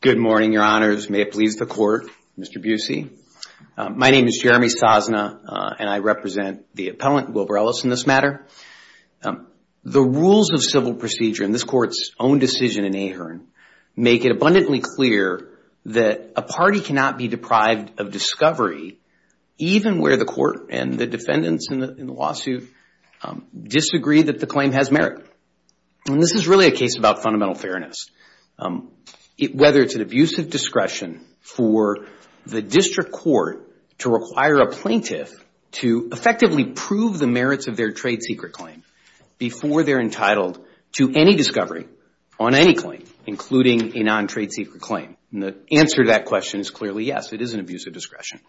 Good morning, your honors. May it please the court, Mr. Busey. My name is Jeremy Sosna, and I represent the appellant Wilbur-Ellis in this matter. The rules of civil procedure in this court's own decision in Ahearn make it abundantly clear that a party cannot be deprived of discovery even where the court and the defendants in the lawsuit disagree that the claim has merit. This is really a case about fundamental fairness. Whether it's an abuse of discretion for the district court to require a plaintiff to effectively prove the merits of their trade secret claim before they're entitled to any discovery on any claim, including a non-trade secret claim. The answer to that question is clearly yes, it is an abuse of discretion.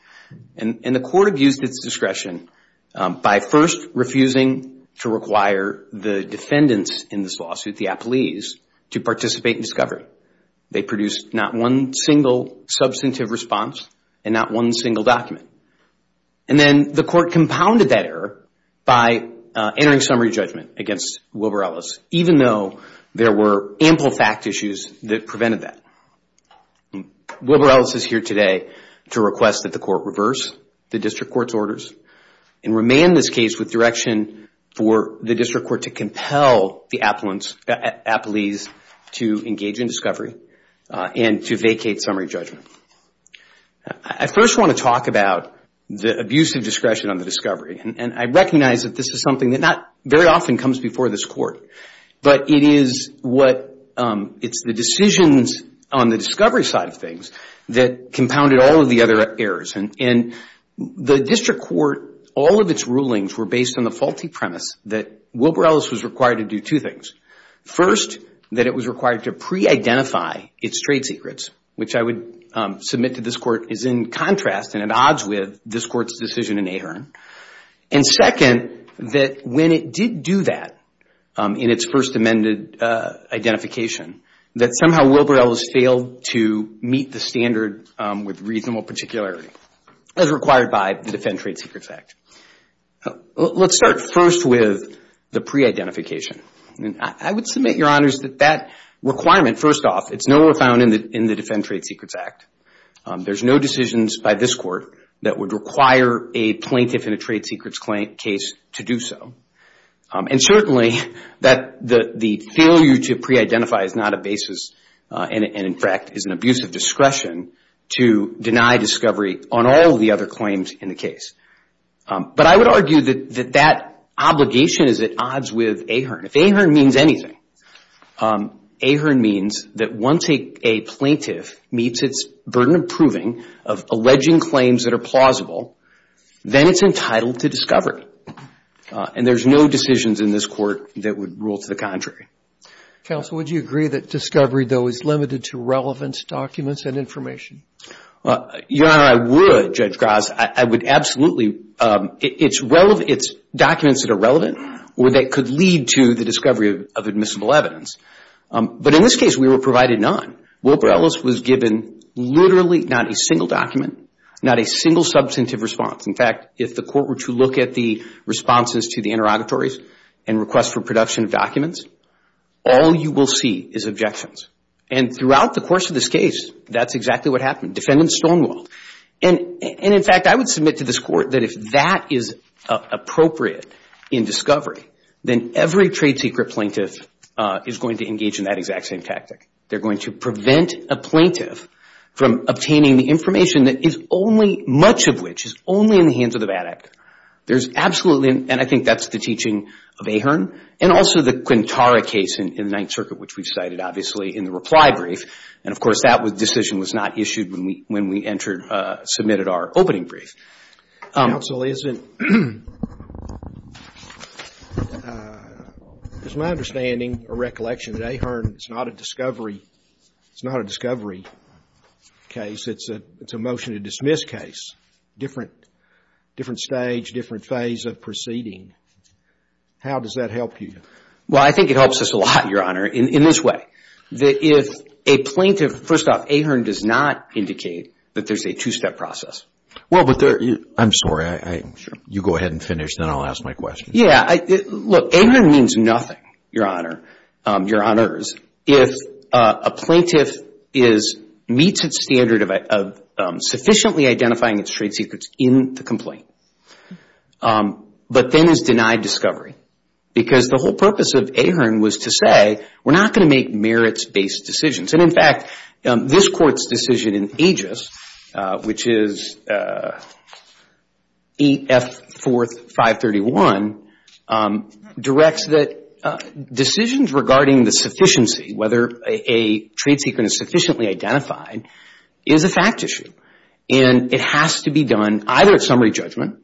The court abused its discretion by first refusing to require the defendants in this lawsuit, the appellees, to participate in discovery. They produced not one single substantive response and not one single document. And then the court compounded that error by entering summary judgment against Wilbur-Ellis, even though there were ample fact issues that prevented that. Wilbur-Ellis is here today to request that the court reverse the district court's orders and remand this case with direction for the district court to compel the appellees to engage in discovery and to vacate summary judgment. I first want to talk about the abuse of discretion on the discovery. And I recognize that this is something that not very often comes before this court. But it is what, it's the decisions on the discovery side of things that compounded all of the other errors. And the district court, all of its rulings were based on the faulty premise that Wilbur-Ellis was required to do two things. First, that it was required to pre-identify its trade secrets, which I would submit to this court is in contrast and at odds with this court's decision in Ahearn. And second, that when it did do that in its first amended identification, that somehow Wilbur-Ellis failed to meet the standard with reasonable particularity as required by the Defend Trade Secrets Act. Let's start first with the pre-identification. I would submit, Your Honors, that that requirement, first off, it's nowhere found in the Defend Trade Secrets Act. There's no decisions by this court that would require a plaintiff in a trade secrets case to do so. And certainly, the failure to pre-identify is not a basis and in fact, is an abuse of discretion to deny discovery on all of the other claims in the case. But I would argue that that obligation is at odds with Ahearn. If Ahearn means anything, Ahearn means that once a plaintiff meets its burden of proving, of alleging claims that are plausible, then it's entitled to discovery. And there's no decisions in this court that would rule to the contrary. Counsel, would you agree that discovery, though, is limited to relevance documents and information? Your Honor, I would, Judge Graz. I would absolutely – it's documents that are relevant or that could lead to the discovery of admissible evidence. But in this case, we were provided none. Wilbur-Ellis was given literally not a single document, not a single substantive response. In fact, if the court were to look at the responses to the interrogatories and requests for production of documents, all you will see is objections. And throughout the course of this case, that's exactly what happened. Defendant Stonewalled. And in fact, I would submit to this court that if that is appropriate in discovery, then every trade secret plaintiff is going to engage in that exact same tactic. They're going to prevent a plaintiff from obtaining the information that is only – much of which is only in the hands of the bad act. There's absolutely – and I think that's the teaching of Ahearn. And also the Quintara case in the Ninth Circuit, which we've cited, obviously, in the reply brief. And of course, that decision was not issued when we entered – submitted our opening brief. Counsel, isn't – it's my understanding or recollection that Ahearn is not a discovery case. It's a motion to dismiss case. Different – different stage, different phase of proceeding. How does that help you? Well, I think it helps us a lot, Your Honor, in this way. That if a plaintiff – first off, Ahearn does not indicate that there's a two-step process. Well, but there – I'm sorry. I – you go ahead and finish, then I'll ask my question. Yeah, I – look, Ahearn means nothing, Your Honor – Your Honors, if a plaintiff is – meets its standard of sufficiently identifying its trade secrets in the complaint, but then is denied discovery. Because the whole purpose of Ahearn was to say, we're not going to make merits-based decisions. And in fact, this Court's decision in Aegis, which is 8F.4.531, directs that decisions regarding the sufficiency, whether a trade secret is sufficiently identified, is a fact issue. And it has to be done either at summary judgment,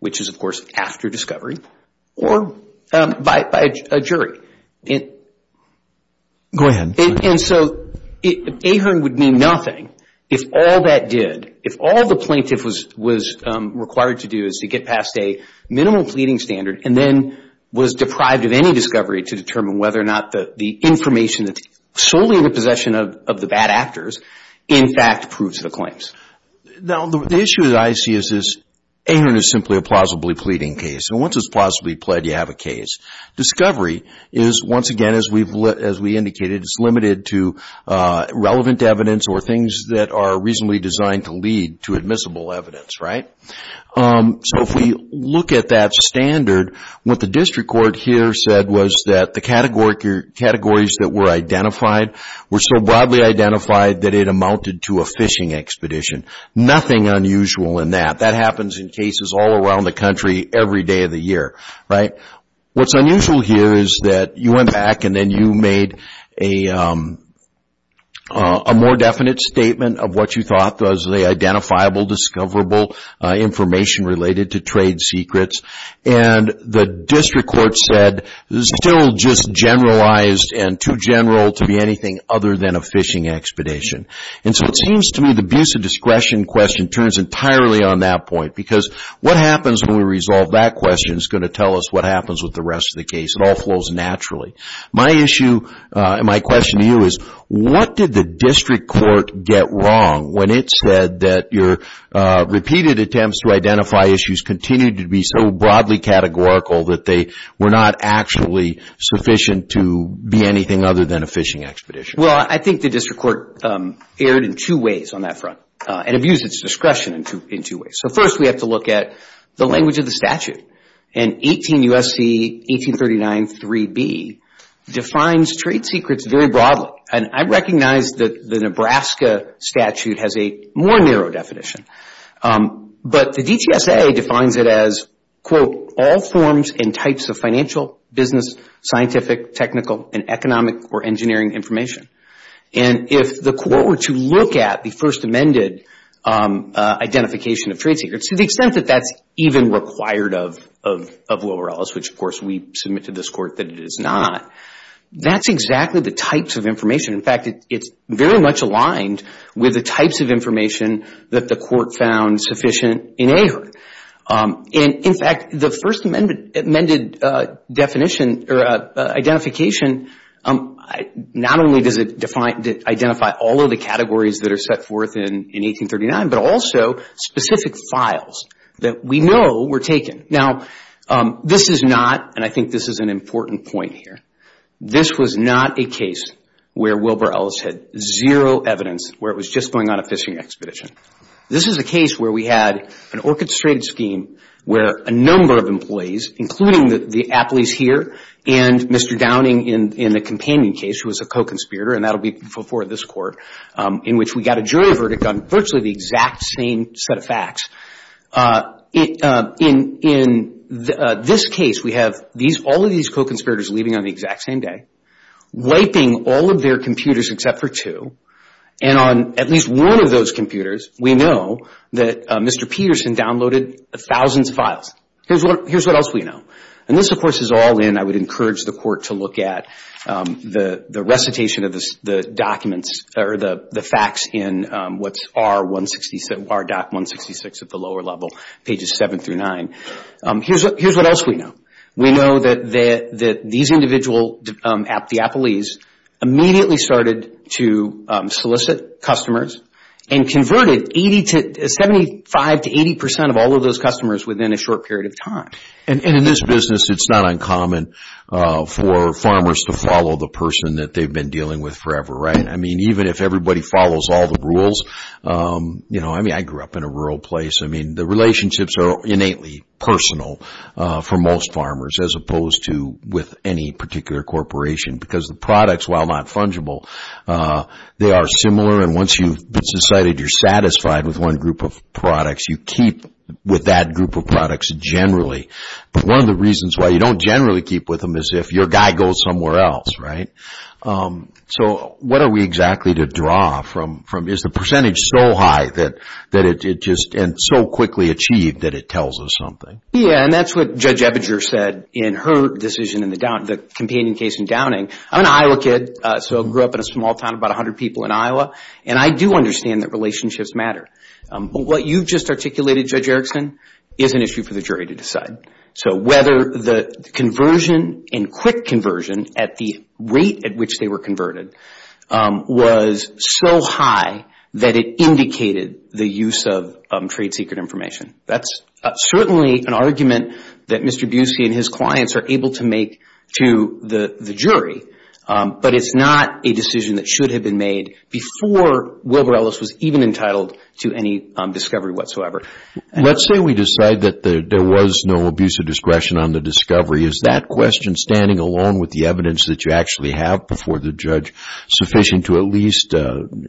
which is, of course, after discovery, or by a jury. Go ahead. And so, Ahearn would mean nothing if all that did – if all the plaintiff was required to do is to get past a minimal pleading standard, and then was deprived of any discovery to determine whether or not the information that's solely in the possession of the bad actors, in fact, proves the claims. Now, the issue that I see is this. Ahearn is simply a plausibly pleading case. And once it's plausibly pled, you have a case. Discovery is, once again, as we've – as we indicated, it's limited to relevant evidence or things that are reasonably designed to lead to admissible evidence, right? So if we look at that standard, what the district court here said was that the categories that were identified were so broadly identified that it amounted to a fishing expedition. Nothing unusual in that. That happens in cases all around the country every day of the year, right? What's unusual here is that you went back and then you made a more definite statement of what you thought was the identifiable, discoverable information related to trade secrets, and the district court said it's still just generalized and too general to be anything other than a fishing expedition. And so it seems to me the abuse of discretion question turns entirely on that point, because what happens when we resolve that question is going to tell us what happens with the rest of the case. It all flows naturally. My issue – my question to you is what did the district court get wrong when it said that your repeated attempts to identify issues continued to be so broadly categorical that they were not actually sufficient to be anything other than a fishing expedition? Well, I think the district court erred in two ways on that front and abused its discretion in two ways. First, we have to look at the language of the statute, and 18 U.S.C. 1839.3b defines trade secrets very broadly. I recognize that the Nebraska statute has a more narrow definition, but the DTSA defines it as, quote, all forms and types of financial, business, scientific, technical, and economic or engineering information. And if the court were to look at the First Amended identification of trade secrets, to the extent that that's even required of Will Rellis, which of course we submit to this court that it is not, that's exactly the types of information. In fact, it's very much aligned with the types of information that the court found sufficient in AHRQ. In fact, the First Amended identification not only does it identify all of the categories that are set forth in 1839, but also specific files that we know were taken. Now this is not, and I think this is an important point here, this was not a case where Wilbur Ellis had zero evidence where it was just going on a fishing expedition. This is a case where we had an orchestrated scheme where a number of employees, including the athletes here and Mr. Downing in the companion case, who was a co-conspirator, and that will be before this court, in which we got a jury verdict on virtually the exact same set of facts. In this case, we have all of these co-conspirators leaving on the exact same day, wiping all of their computers except for two, and on at least one of those computers, we know that Mr. Peterson downloaded thousands of files. Here's what else we know. This of course is all in, I would encourage the court to look at, the recitation of the documents or the facts in what's R.166 at the lower level, pages 7 through 9. Here's what else we know. We know that these individual at the athletes immediately started to solicit customers and converted 75 to 80 percent of all of those customers within a short period of time. In this business, it's not uncommon for farmers to follow the person that they've been dealing with forever, right? Even if everybody follows all the rules, I grew up in a rural place, the relationships are innately personal for most farmers as opposed to with any particular corporation because the products, while not fungible, they are similar and once you've decided you're satisfied with one group of products, you keep with that group of products generally. One of the reasons why you don't generally keep with them is if your guy goes somewhere else, right? So what are we exactly to draw from? Is the percentage so high and so quickly achieved that it tells us something? Yeah, and that's what Judge Ebinger said in her decision in the companion case in Downing. I'm an Iowa kid, so I grew up in a small town, about 100 people in Iowa, and I do understand that relationships matter. What you just articulated, Judge Erickson, is an issue for the jury to decide. So whether the conversion and quick conversion at the rate at which they were converted was so high that it indicated the use of trade secret information. That's certainly an argument that Mr. Busey and his clients are able to make to the jury, but it's not a decision that should have been made before Wilbur Ellis was even entitled to any discovery whatsoever. Let's say we decide that there was no abuse of discretion on the discovery, is that question standing alone with the evidence that you actually have before the judge sufficient to at least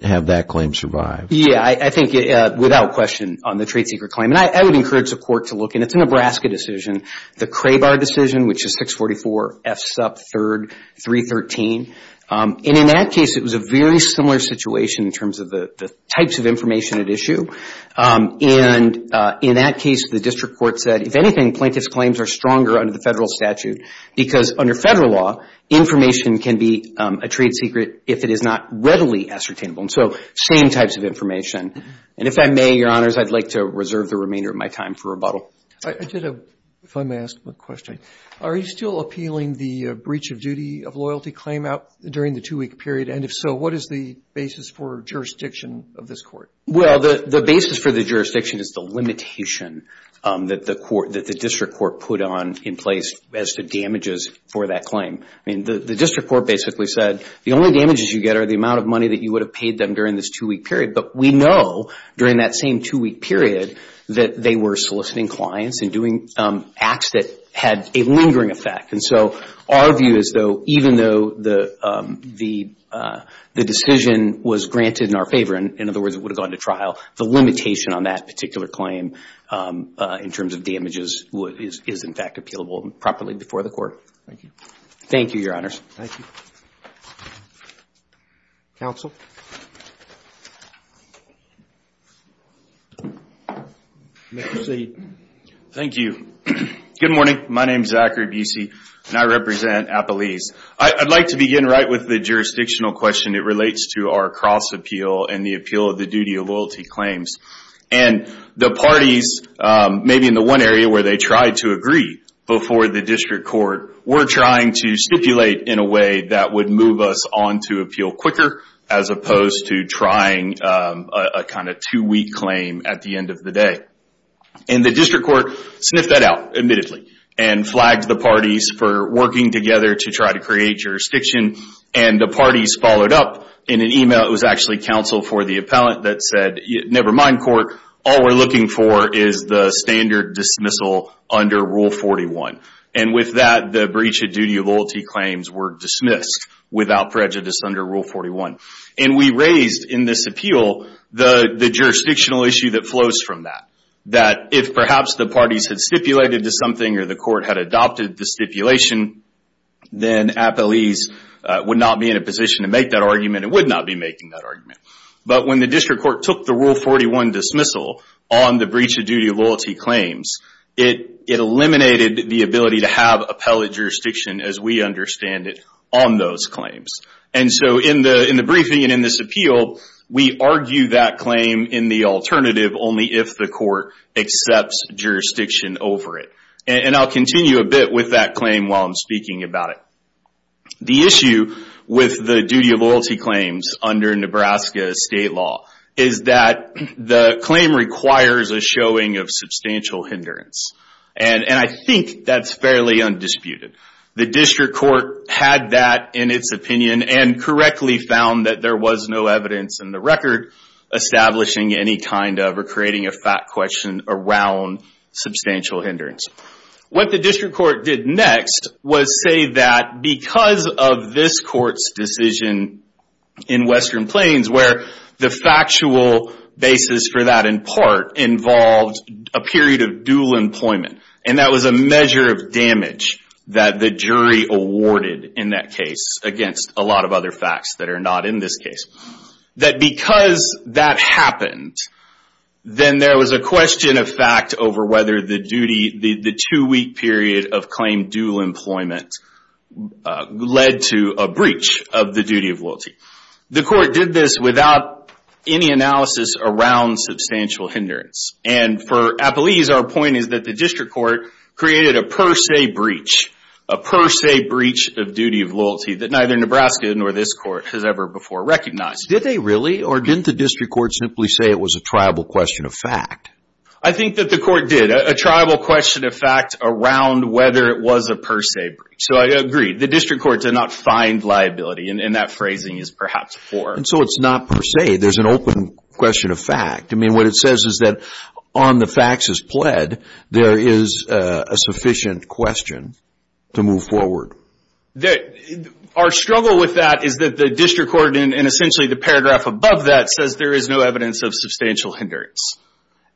have that claim survive? Yeah, I think without question on the trade secret claim. I would encourage the court to look, and it's a Nebraska decision, the Crabar decision, which is 644 F. Supp. 3, 313, and in that case, it was a very similar situation in terms of the types of information at issue. In that case, the district court said, if anything, plaintiff's claims are stronger under the federal statute because under federal law, information can be a trade secret if it is not readily ascertainable, and so same types of information, and if I may, Your Honors, I'd like to reserve the remainder of my time for rebuttal. I did a, if I may ask a question, are you still appealing the breach of duty of loyalty claim out during the two-week period, and if so, what is the basis for jurisdiction of this court? Well, the basis for the jurisdiction is the limitation that the district court put on in place as to damages for that claim. I mean, the district court basically said, the only damages you get are the amount of money that you would have paid them during this two-week period, but we know during that same two-week period that they were soliciting clients and doing acts that had a lingering effect, and so our view is, though, even though the decision was granted in our favor, in other words, it would have gone to trial, the limitation on that particular claim in terms of damages is, in fact, appealable properly before the court. Thank you. Thank you, Your Honors. Thank you. Counsel? Mr. Seed. Thank you. Good morning. My name is Zachary Busey, and I represent Appalese. I'd like to begin right with the jurisdictional question. It relates to our cross-appeal and the appeal of the duty of loyalty claims. And the parties, maybe in the one area where they tried to agree before the district court were trying to stipulate in a way that would move us on to appeal quicker as opposed to trying a kind of two-week claim at the end of the day. And the district court sniffed that out, admittedly, and flagged the parties for working together to try to create jurisdiction, and the parties followed up in an email that was actually counsel for the appellant that said, never mind court, all we're looking for is the standard dismissal under Rule 41. And with that, the breach of duty of loyalty claims were dismissed without prejudice under Rule 41. And we raised in this appeal the jurisdictional issue that flows from that, that if perhaps the parties had stipulated to something or the court had adopted the stipulation, then Appalese would not be in a position to make that argument and would not be making that But when the district court took the Rule 41 dismissal on the breach of duty of loyalty claims, it eliminated the ability to have appellate jurisdiction as we understand it on those claims. And so in the briefing and in this appeal, we argue that claim in the alternative only if the court accepts jurisdiction over it. And I'll continue a bit with that claim while I'm speaking about it. The issue with the duty of loyalty claims under Nebraska state law is that the claim requires a showing of substantial hindrance. And I think that's fairly undisputed. The district court had that in its opinion and correctly found that there was no evidence in the record establishing any kind of or creating a fact question around substantial hindrance. What the district court did next was say that because of this court's decision in Western part involved a period of dual employment, and that was a measure of damage that the jury awarded in that case against a lot of other facts that are not in this case, that because that happened, then there was a question of fact over whether the duty, the two-week period of claim dual employment led to a breach of the duty of loyalty. The court did this without any analysis around substantial hindrance. And for Appelese, our point is that the district court created a per se breach, a per se breach of duty of loyalty that neither Nebraska nor this court has ever before recognized. Did they really? Or didn't the district court simply say it was a tribal question of fact? I think that the court did, a tribal question of fact around whether it was a per se breach. So I agree. The district court did not find liability, and that phrasing is perhaps poor. And so it's not per se. There's an open question of fact. I mean, what it says is that on the facts as pled, there is a sufficient question to move forward. Our struggle with that is that the district court, and essentially the paragraph above that says there is no evidence of substantial hindrance.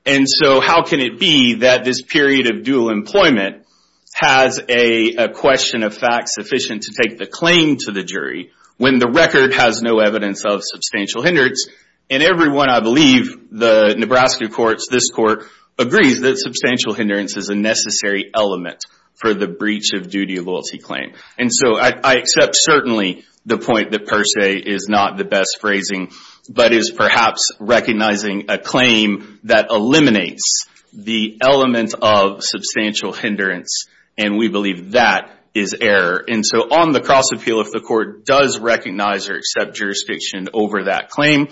And so how can it be that this period of dual employment has a question of fact sufficient to take the claim to the jury when the record has no evidence of substantial hindrance? And everyone, I believe, the Nebraska courts, this court, agrees that substantial hindrance is a necessary element for the breach of duty of loyalty claim. And so I accept certainly the point that per se is not the best phrasing, but is perhaps recognizing a claim that eliminates the element of substantial hindrance, and we believe that is error. And so on the cross appeal, if the court does recognize or accept jurisdiction over that claim,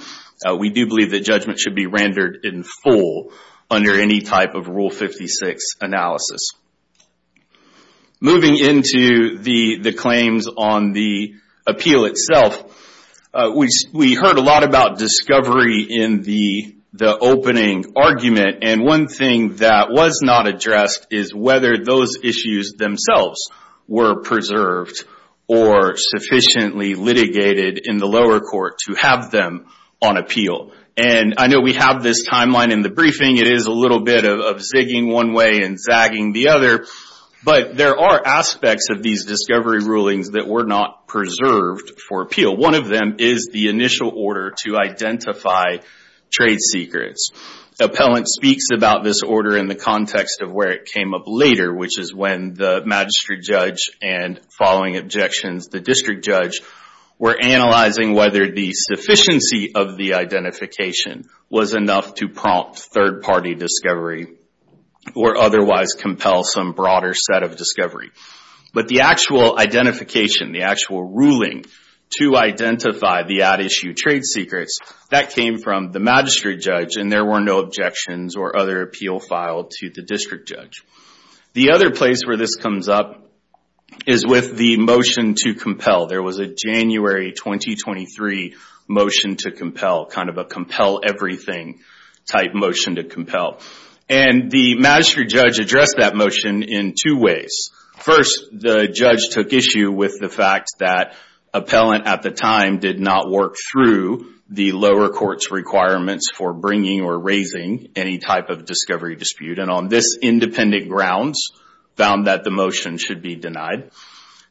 we do believe that judgment should be rendered in full under any type of Rule 56 analysis. Moving into the claims on the appeal itself, we heard a lot about discovery in the opening argument, and one thing that was not addressed is whether those issues themselves were preserved or sufficiently litigated in the lower court to have them on appeal. And I know we have this timeline in the briefing, it is a little bit of zigging one way and bagging the other, but there are aspects of these discovery rulings that were not preserved for appeal. One of them is the initial order to identify trade secrets. Appellant speaks about this order in the context of where it came up later, which is when the magistrate judge and following objections, the district judge, were analyzing whether the sufficiency of the identification was enough to prompt third-party discovery or otherwise compel some broader set of discovery. But the actual identification, the actual ruling to identify the at-issue trade secrets, that came from the magistrate judge and there were no objections or other appeal filed to the district judge. The other place where this comes up is with the motion to compel. There was a January 2023 motion to compel, kind of a compel everything type motion to compel. And the magistrate judge addressed that motion in two ways. First, the judge took issue with the fact that appellant at the time did not work through the lower court's requirements for bringing or raising any type of discovery dispute. And on this independent grounds, found that the motion should be denied.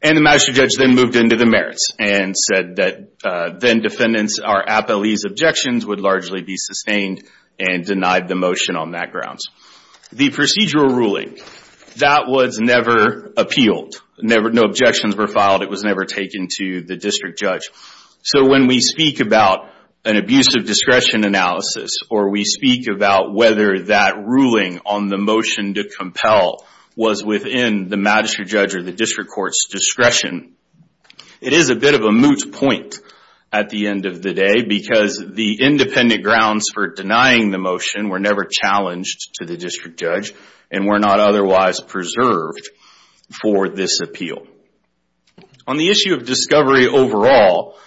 And the magistrate judge then moved into the merits and said that then defendants are appellees objections would largely be sustained and denied the motion on that grounds. The procedural ruling, that was never appealed. No objections were filed. It was never taken to the district judge. So when we speak about an abuse of discretion analysis or we speak about whether that ruling on the motion to compel was within the magistrate judge or the district court's discretion, it is a bit of a moot point at the end of the day because the independent grounds for denying the motion were never challenged to the district judge and were not otherwise preserved for this appeal. On the issue of discovery overall,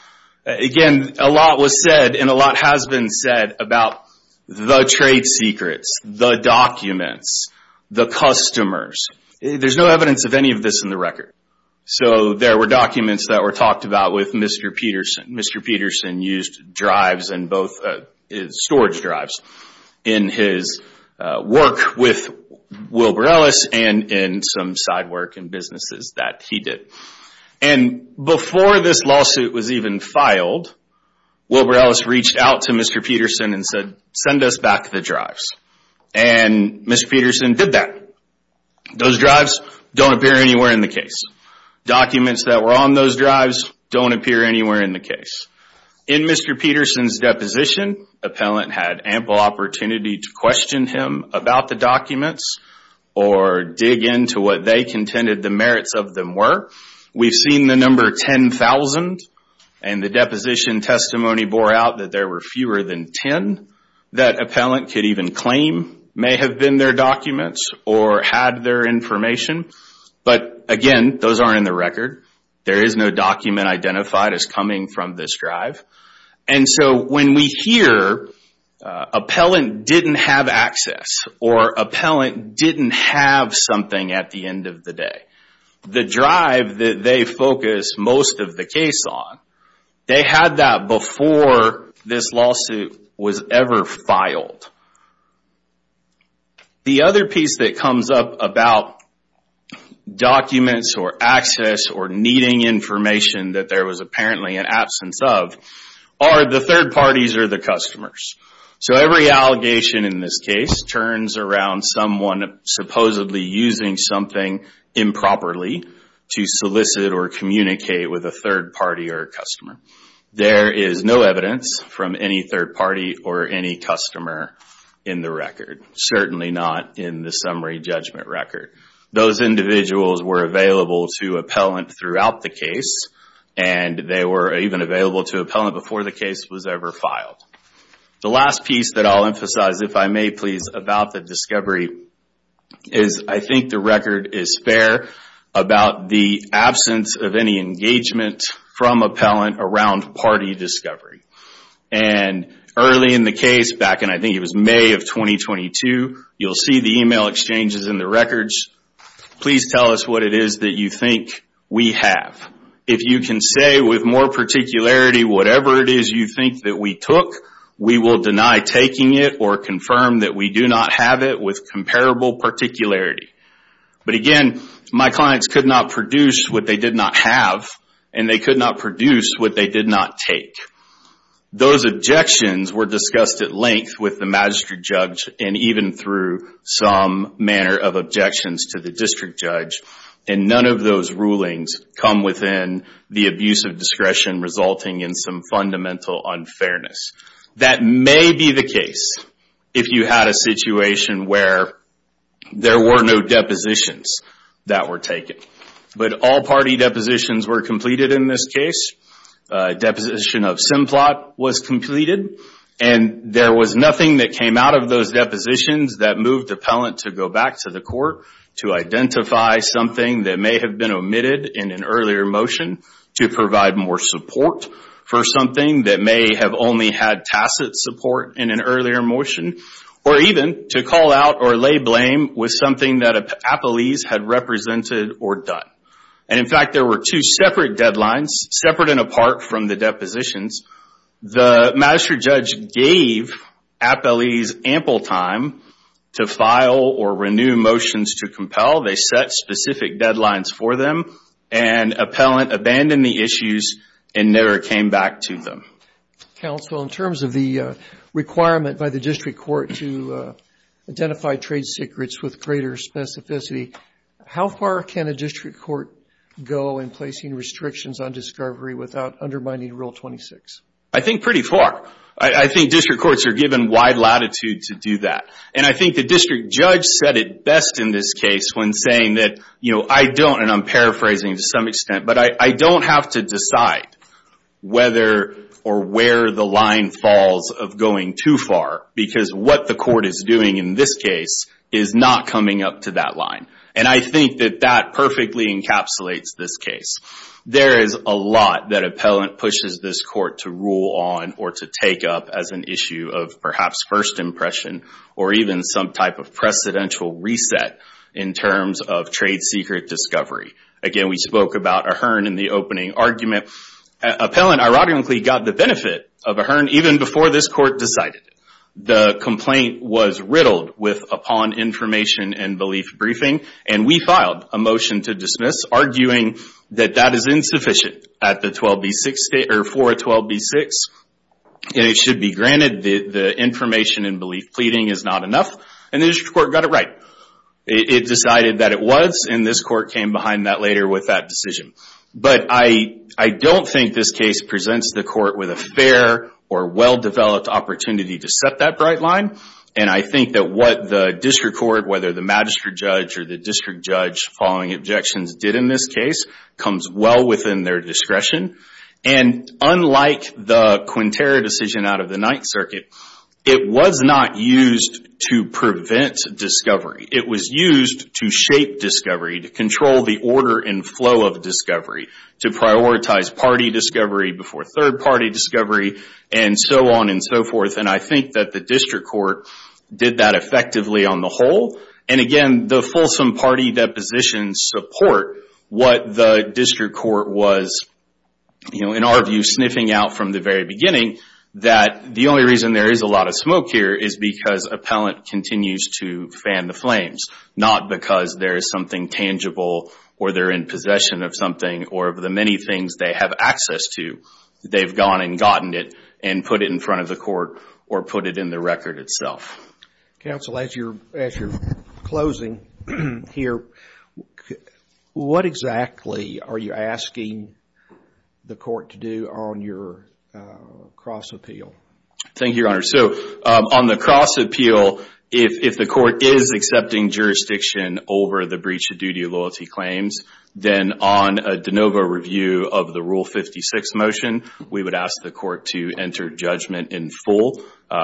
again, a lot was said and a lot has been said about the trade secrets, the documents, the customers. There's no evidence of any of this in the record. So there were documents that were talked about with Mr. Peterson. Mr. Peterson used drives and both storage drives in his work with Wilbur Ellis and in some side work and businesses that he did. And before this lawsuit was even filed, Wilbur Ellis reached out to Mr. Peterson and said, send us back the drives. And Mr. Peterson did that. Those drives don't appear anywhere in the case. Documents that were on those drives don't appear anywhere in the case. In Mr. Peterson's deposition, appellant had ample opportunity to question him about the documents or dig into what they contended the merits of them were. We've seen the number 10,000 and the deposition testimony bore out that there were fewer than 10 that appellant could even claim may have been their documents or had their information. But again, those aren't in the record. There is no document identified as coming from this drive. And so when we hear appellant didn't have access or appellant didn't have something at the end of the day, the drive that they focus most of the case on, they had that before this lawsuit was ever filed. The other piece that comes up about documents or access or needing information that there was apparently an absence of are the third parties or the customers. So every allegation in this case turns around someone supposedly using something improperly to solicit or communicate with a third party or a customer. There is no evidence from any third party or any customer in the record. Certainly not in the summary judgment record. Those individuals were available to appellant throughout the case and they were even available to appellant before the case was ever filed. The last piece that I'll emphasize, if I may please, about the discovery is I think the record is fair about the absence of any engagement from appellant around party discovery. And early in the case, back in I think it was May of 2022, you'll see the email exchanges in the records, please tell us what it is that you think we have. If you can say with more particularity whatever it is you think that we took, we will deny taking it or confirm that we do not have it with comparable particularity. But again, my clients could not produce what they did not have and they could not produce what they did not take. Those objections were discussed at length with the magistrate judge and even through some manner of objections to the district judge and none of those rulings come within the abuse of discretion resulting in some fundamental unfairness. That may be the case if you had a situation where there were no depositions that were taken. But all party depositions were completed in this case. Deposition of Simplot was completed and there was nothing that came out of those depositions that moved the appellant to go back to the court to identify something that may have been omitted in an earlier motion to provide more support for something that may have only had tacit support in an earlier motion or even to call out or lay blame with something that appellees had represented or done. In fact, there were two separate deadlines, separate and apart from the depositions. The magistrate judge gave appellees ample time to file or renew motions to compel. They set specific deadlines for them and appellant abandoned the issues and never came back to them. Counsel, in terms of the requirement by the district court to identify trade secrets with greater specificity, how far can a district court go in placing restrictions on discovery without undermining Rule 26? I think pretty far. I think district courts are given wide latitude to do that. I think the district judge said it best in this case when saying that I don't, and I'm or where the line falls of going too far because what the court is doing in this case is not coming up to that line. I think that that perfectly encapsulates this case. There is a lot that appellant pushes this court to rule on or to take up as an issue of perhaps first impression or even some type of precedential reset in terms of trade secret discovery. Again, we spoke about Ahern in the opening argument. Appellant, ironically, got the benefit of Ahern even before this court decided. The complaint was riddled with upon information and belief briefing, and we filed a motion to dismiss, arguing that that is insufficient for 12b-6, and it should be granted the information and belief pleading is not enough, and the district court got it right. It decided that it was, and this court came behind that later with that decision. I don't think this case presents the court with a fair or well-developed opportunity to set that bright line, and I think that what the district court, whether the magistrate judge or the district judge following objections did in this case comes well within their discretion. Unlike the Quintero decision out of the Ninth Circuit, it was not used to prevent discovery. It was used to shape discovery, to control the order and flow of discovery, to prioritize party discovery before third-party discovery, and so on and so forth. I think that the district court did that effectively on the whole, and again, the fulsome party depositions support what the district court was, in our view, sniffing out from the very beginning that the only reason there is a lot of smoke here is because appellant continues to fan the flames, not because there is something tangible or they're in possession of something or the many things they have access to, they've gone and gotten it and put it in front of the court or put it in the record itself. Counsel, as you're closing here, what exactly are you asking the court to do on your cross appeal? Thank you, Your Honor. On the cross appeal, if the court is accepting jurisdiction over the breach of duty of loyalty claims, then on a de novo review of the Rule 56 motion, we would ask the court to enter judgment in full,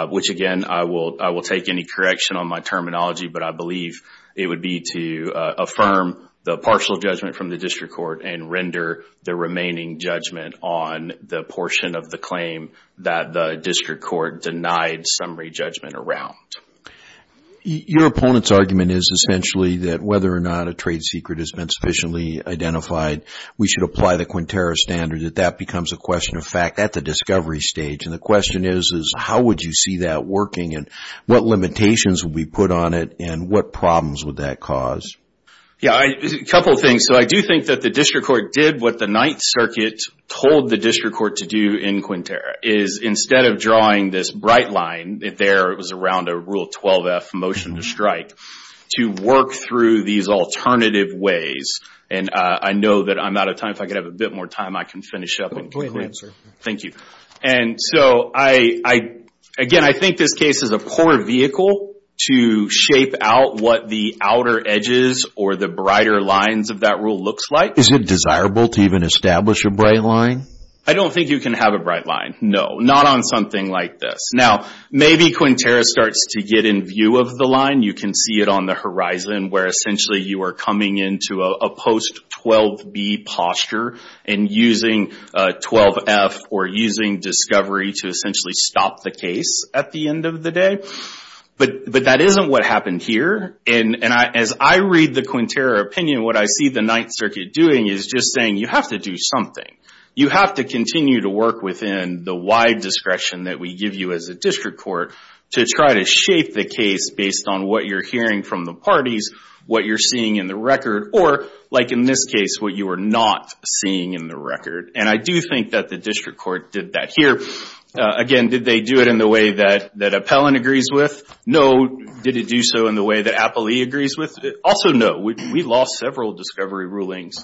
which again, I will take any correction on my terminology, but I believe it would be to affirm the partial judgment from the district court and render the remaining judgment on the portion of the claim that the district court denied summary judgment around. Your opponent's argument is essentially that whether or not a trade secret has been sufficiently identified, we should apply the Quintero standard, that that becomes a question of fact at the discovery stage, and the question is, is how would you see that working and what limitations would be put on it and what problems would that cause? Yeah, a couple of things. So I do think that the district court did what the Ninth Circuit told the district court to do in Quintero, is instead of drawing this bright line there, it was around a Rule 12F motion to strike, to work through these alternative ways. And I know that I'm out of time. If I could have a bit more time, I can finish up in Quintero. Thank you. And so, again, I think this case is a poor vehicle to shape out what the outer edges or the brighter lines of that rule looks like. Is it desirable to even establish a bright line? I don't think you can have a bright line, no, not on something like this. Now, maybe Quintero starts to get in view of the line. You can see it on the horizon where essentially you are coming into a post-12B posture and using 12F or using discovery to essentially stop the case at the end of the day. But that isn't what happened here. And as I read the Quintero opinion, what I see the Ninth Circuit doing is just saying, you have to do something. You have to continue to work within the wide discretion that we give you as a district court to try to shape the case based on what you're hearing from the parties, what you're seeing in the record, or, like in this case, what you are not seeing in the record. And I do think that the district court did that here. Again, did they do it in the way that Appellant agrees with? No. Did it do so in the way that Appellee agrees with? Also no. We lost several discovery rulings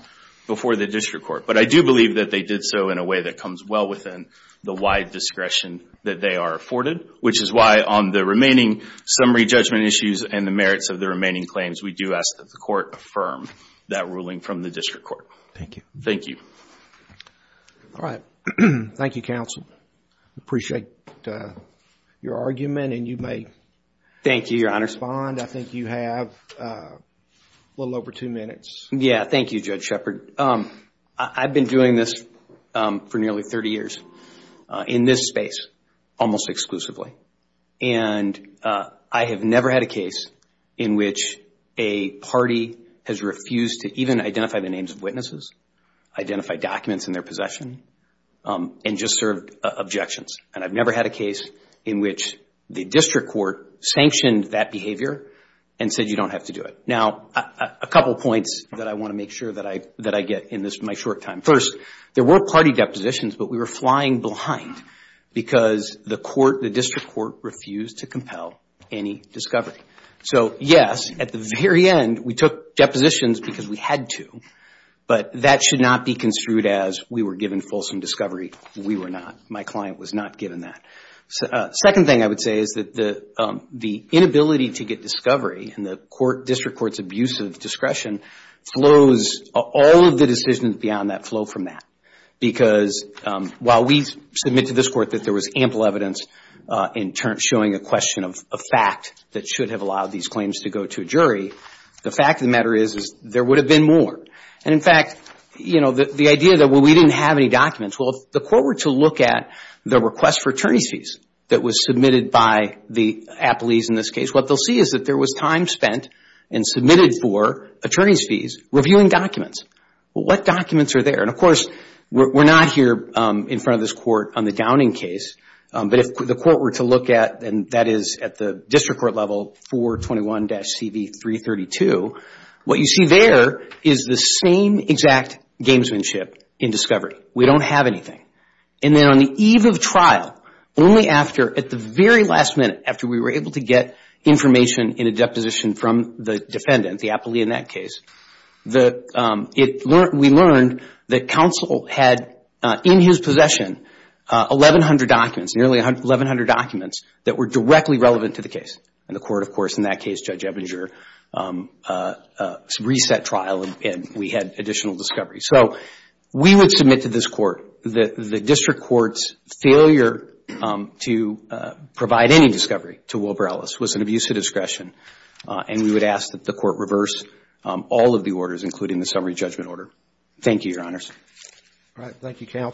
before the district court. But I do believe that they did so in a way that comes well within the wide discretion that they are afforded, which is why on the remaining summary judgment issues and the merits of the remaining claims, we do ask that the court affirm that ruling from the district court. Thank you. Thank you. All right. Thank you, counsel. I appreciate your argument and you may... Thank you, Your Honor... respond. I think you have a little over two minutes. Yeah. Thank you, Judge Shepard. I've been doing this for nearly 30 years in this space, almost exclusively. And I have never had a case in which a party has refused to even identify the names of witnesses, identify documents in their possession, and just served objections. And I've never had a case in which the district court sanctioned that behavior and said you don't have to do it. Now, a couple of points that I want to make sure that I get in my short time. First, there were party depositions, but we were flying blind because the court, the district court refused to compel any discovery. So yes, at the very end, we took depositions because we had to, but that should not be construed as we were given fulsome discovery. We were not. My client was not given that. Second thing I would say is that the inability to get discovery in the district court's abuse of discretion flows... all of the decisions beyond that flow from that. Because while we submit to this court that there was ample evidence in showing a question of a fact that should have allowed these claims to go to a jury, the fact of the matter is there would have been more. And in fact, you know, the idea that we didn't have any documents, well, if the court were to look at the request for attorney's fees that was submitted by the apolis in this case, what they'll see is that there was time spent and submitted for attorney's fees reviewing documents. What documents are there? And of course, we're not here in front of this court on the Downing case, but if the court were to look at, and that is at the district court level, 421-CV332, what you see there is the same exact gamesmanship in discovery. We don't have anything. And then on the eve of trial, only after, at the very last minute after we were able to get information in a deposition from the defendant, the apoli in that case, we learned that counsel had in his possession 1,100 documents, nearly 1,100 documents that were directly relevant to the case. And the court, of course, in that case, Judge Ebinger, reset trial and we had additional discovery. So, we would submit to this court that the district court's failure to provide any discovery to Wilbur Ellis was an abuse of discretion. And we would ask that the court reverse all of the orders, including the summary judgment order. Thank you, Your Honors. All right. Thank you, Counsel.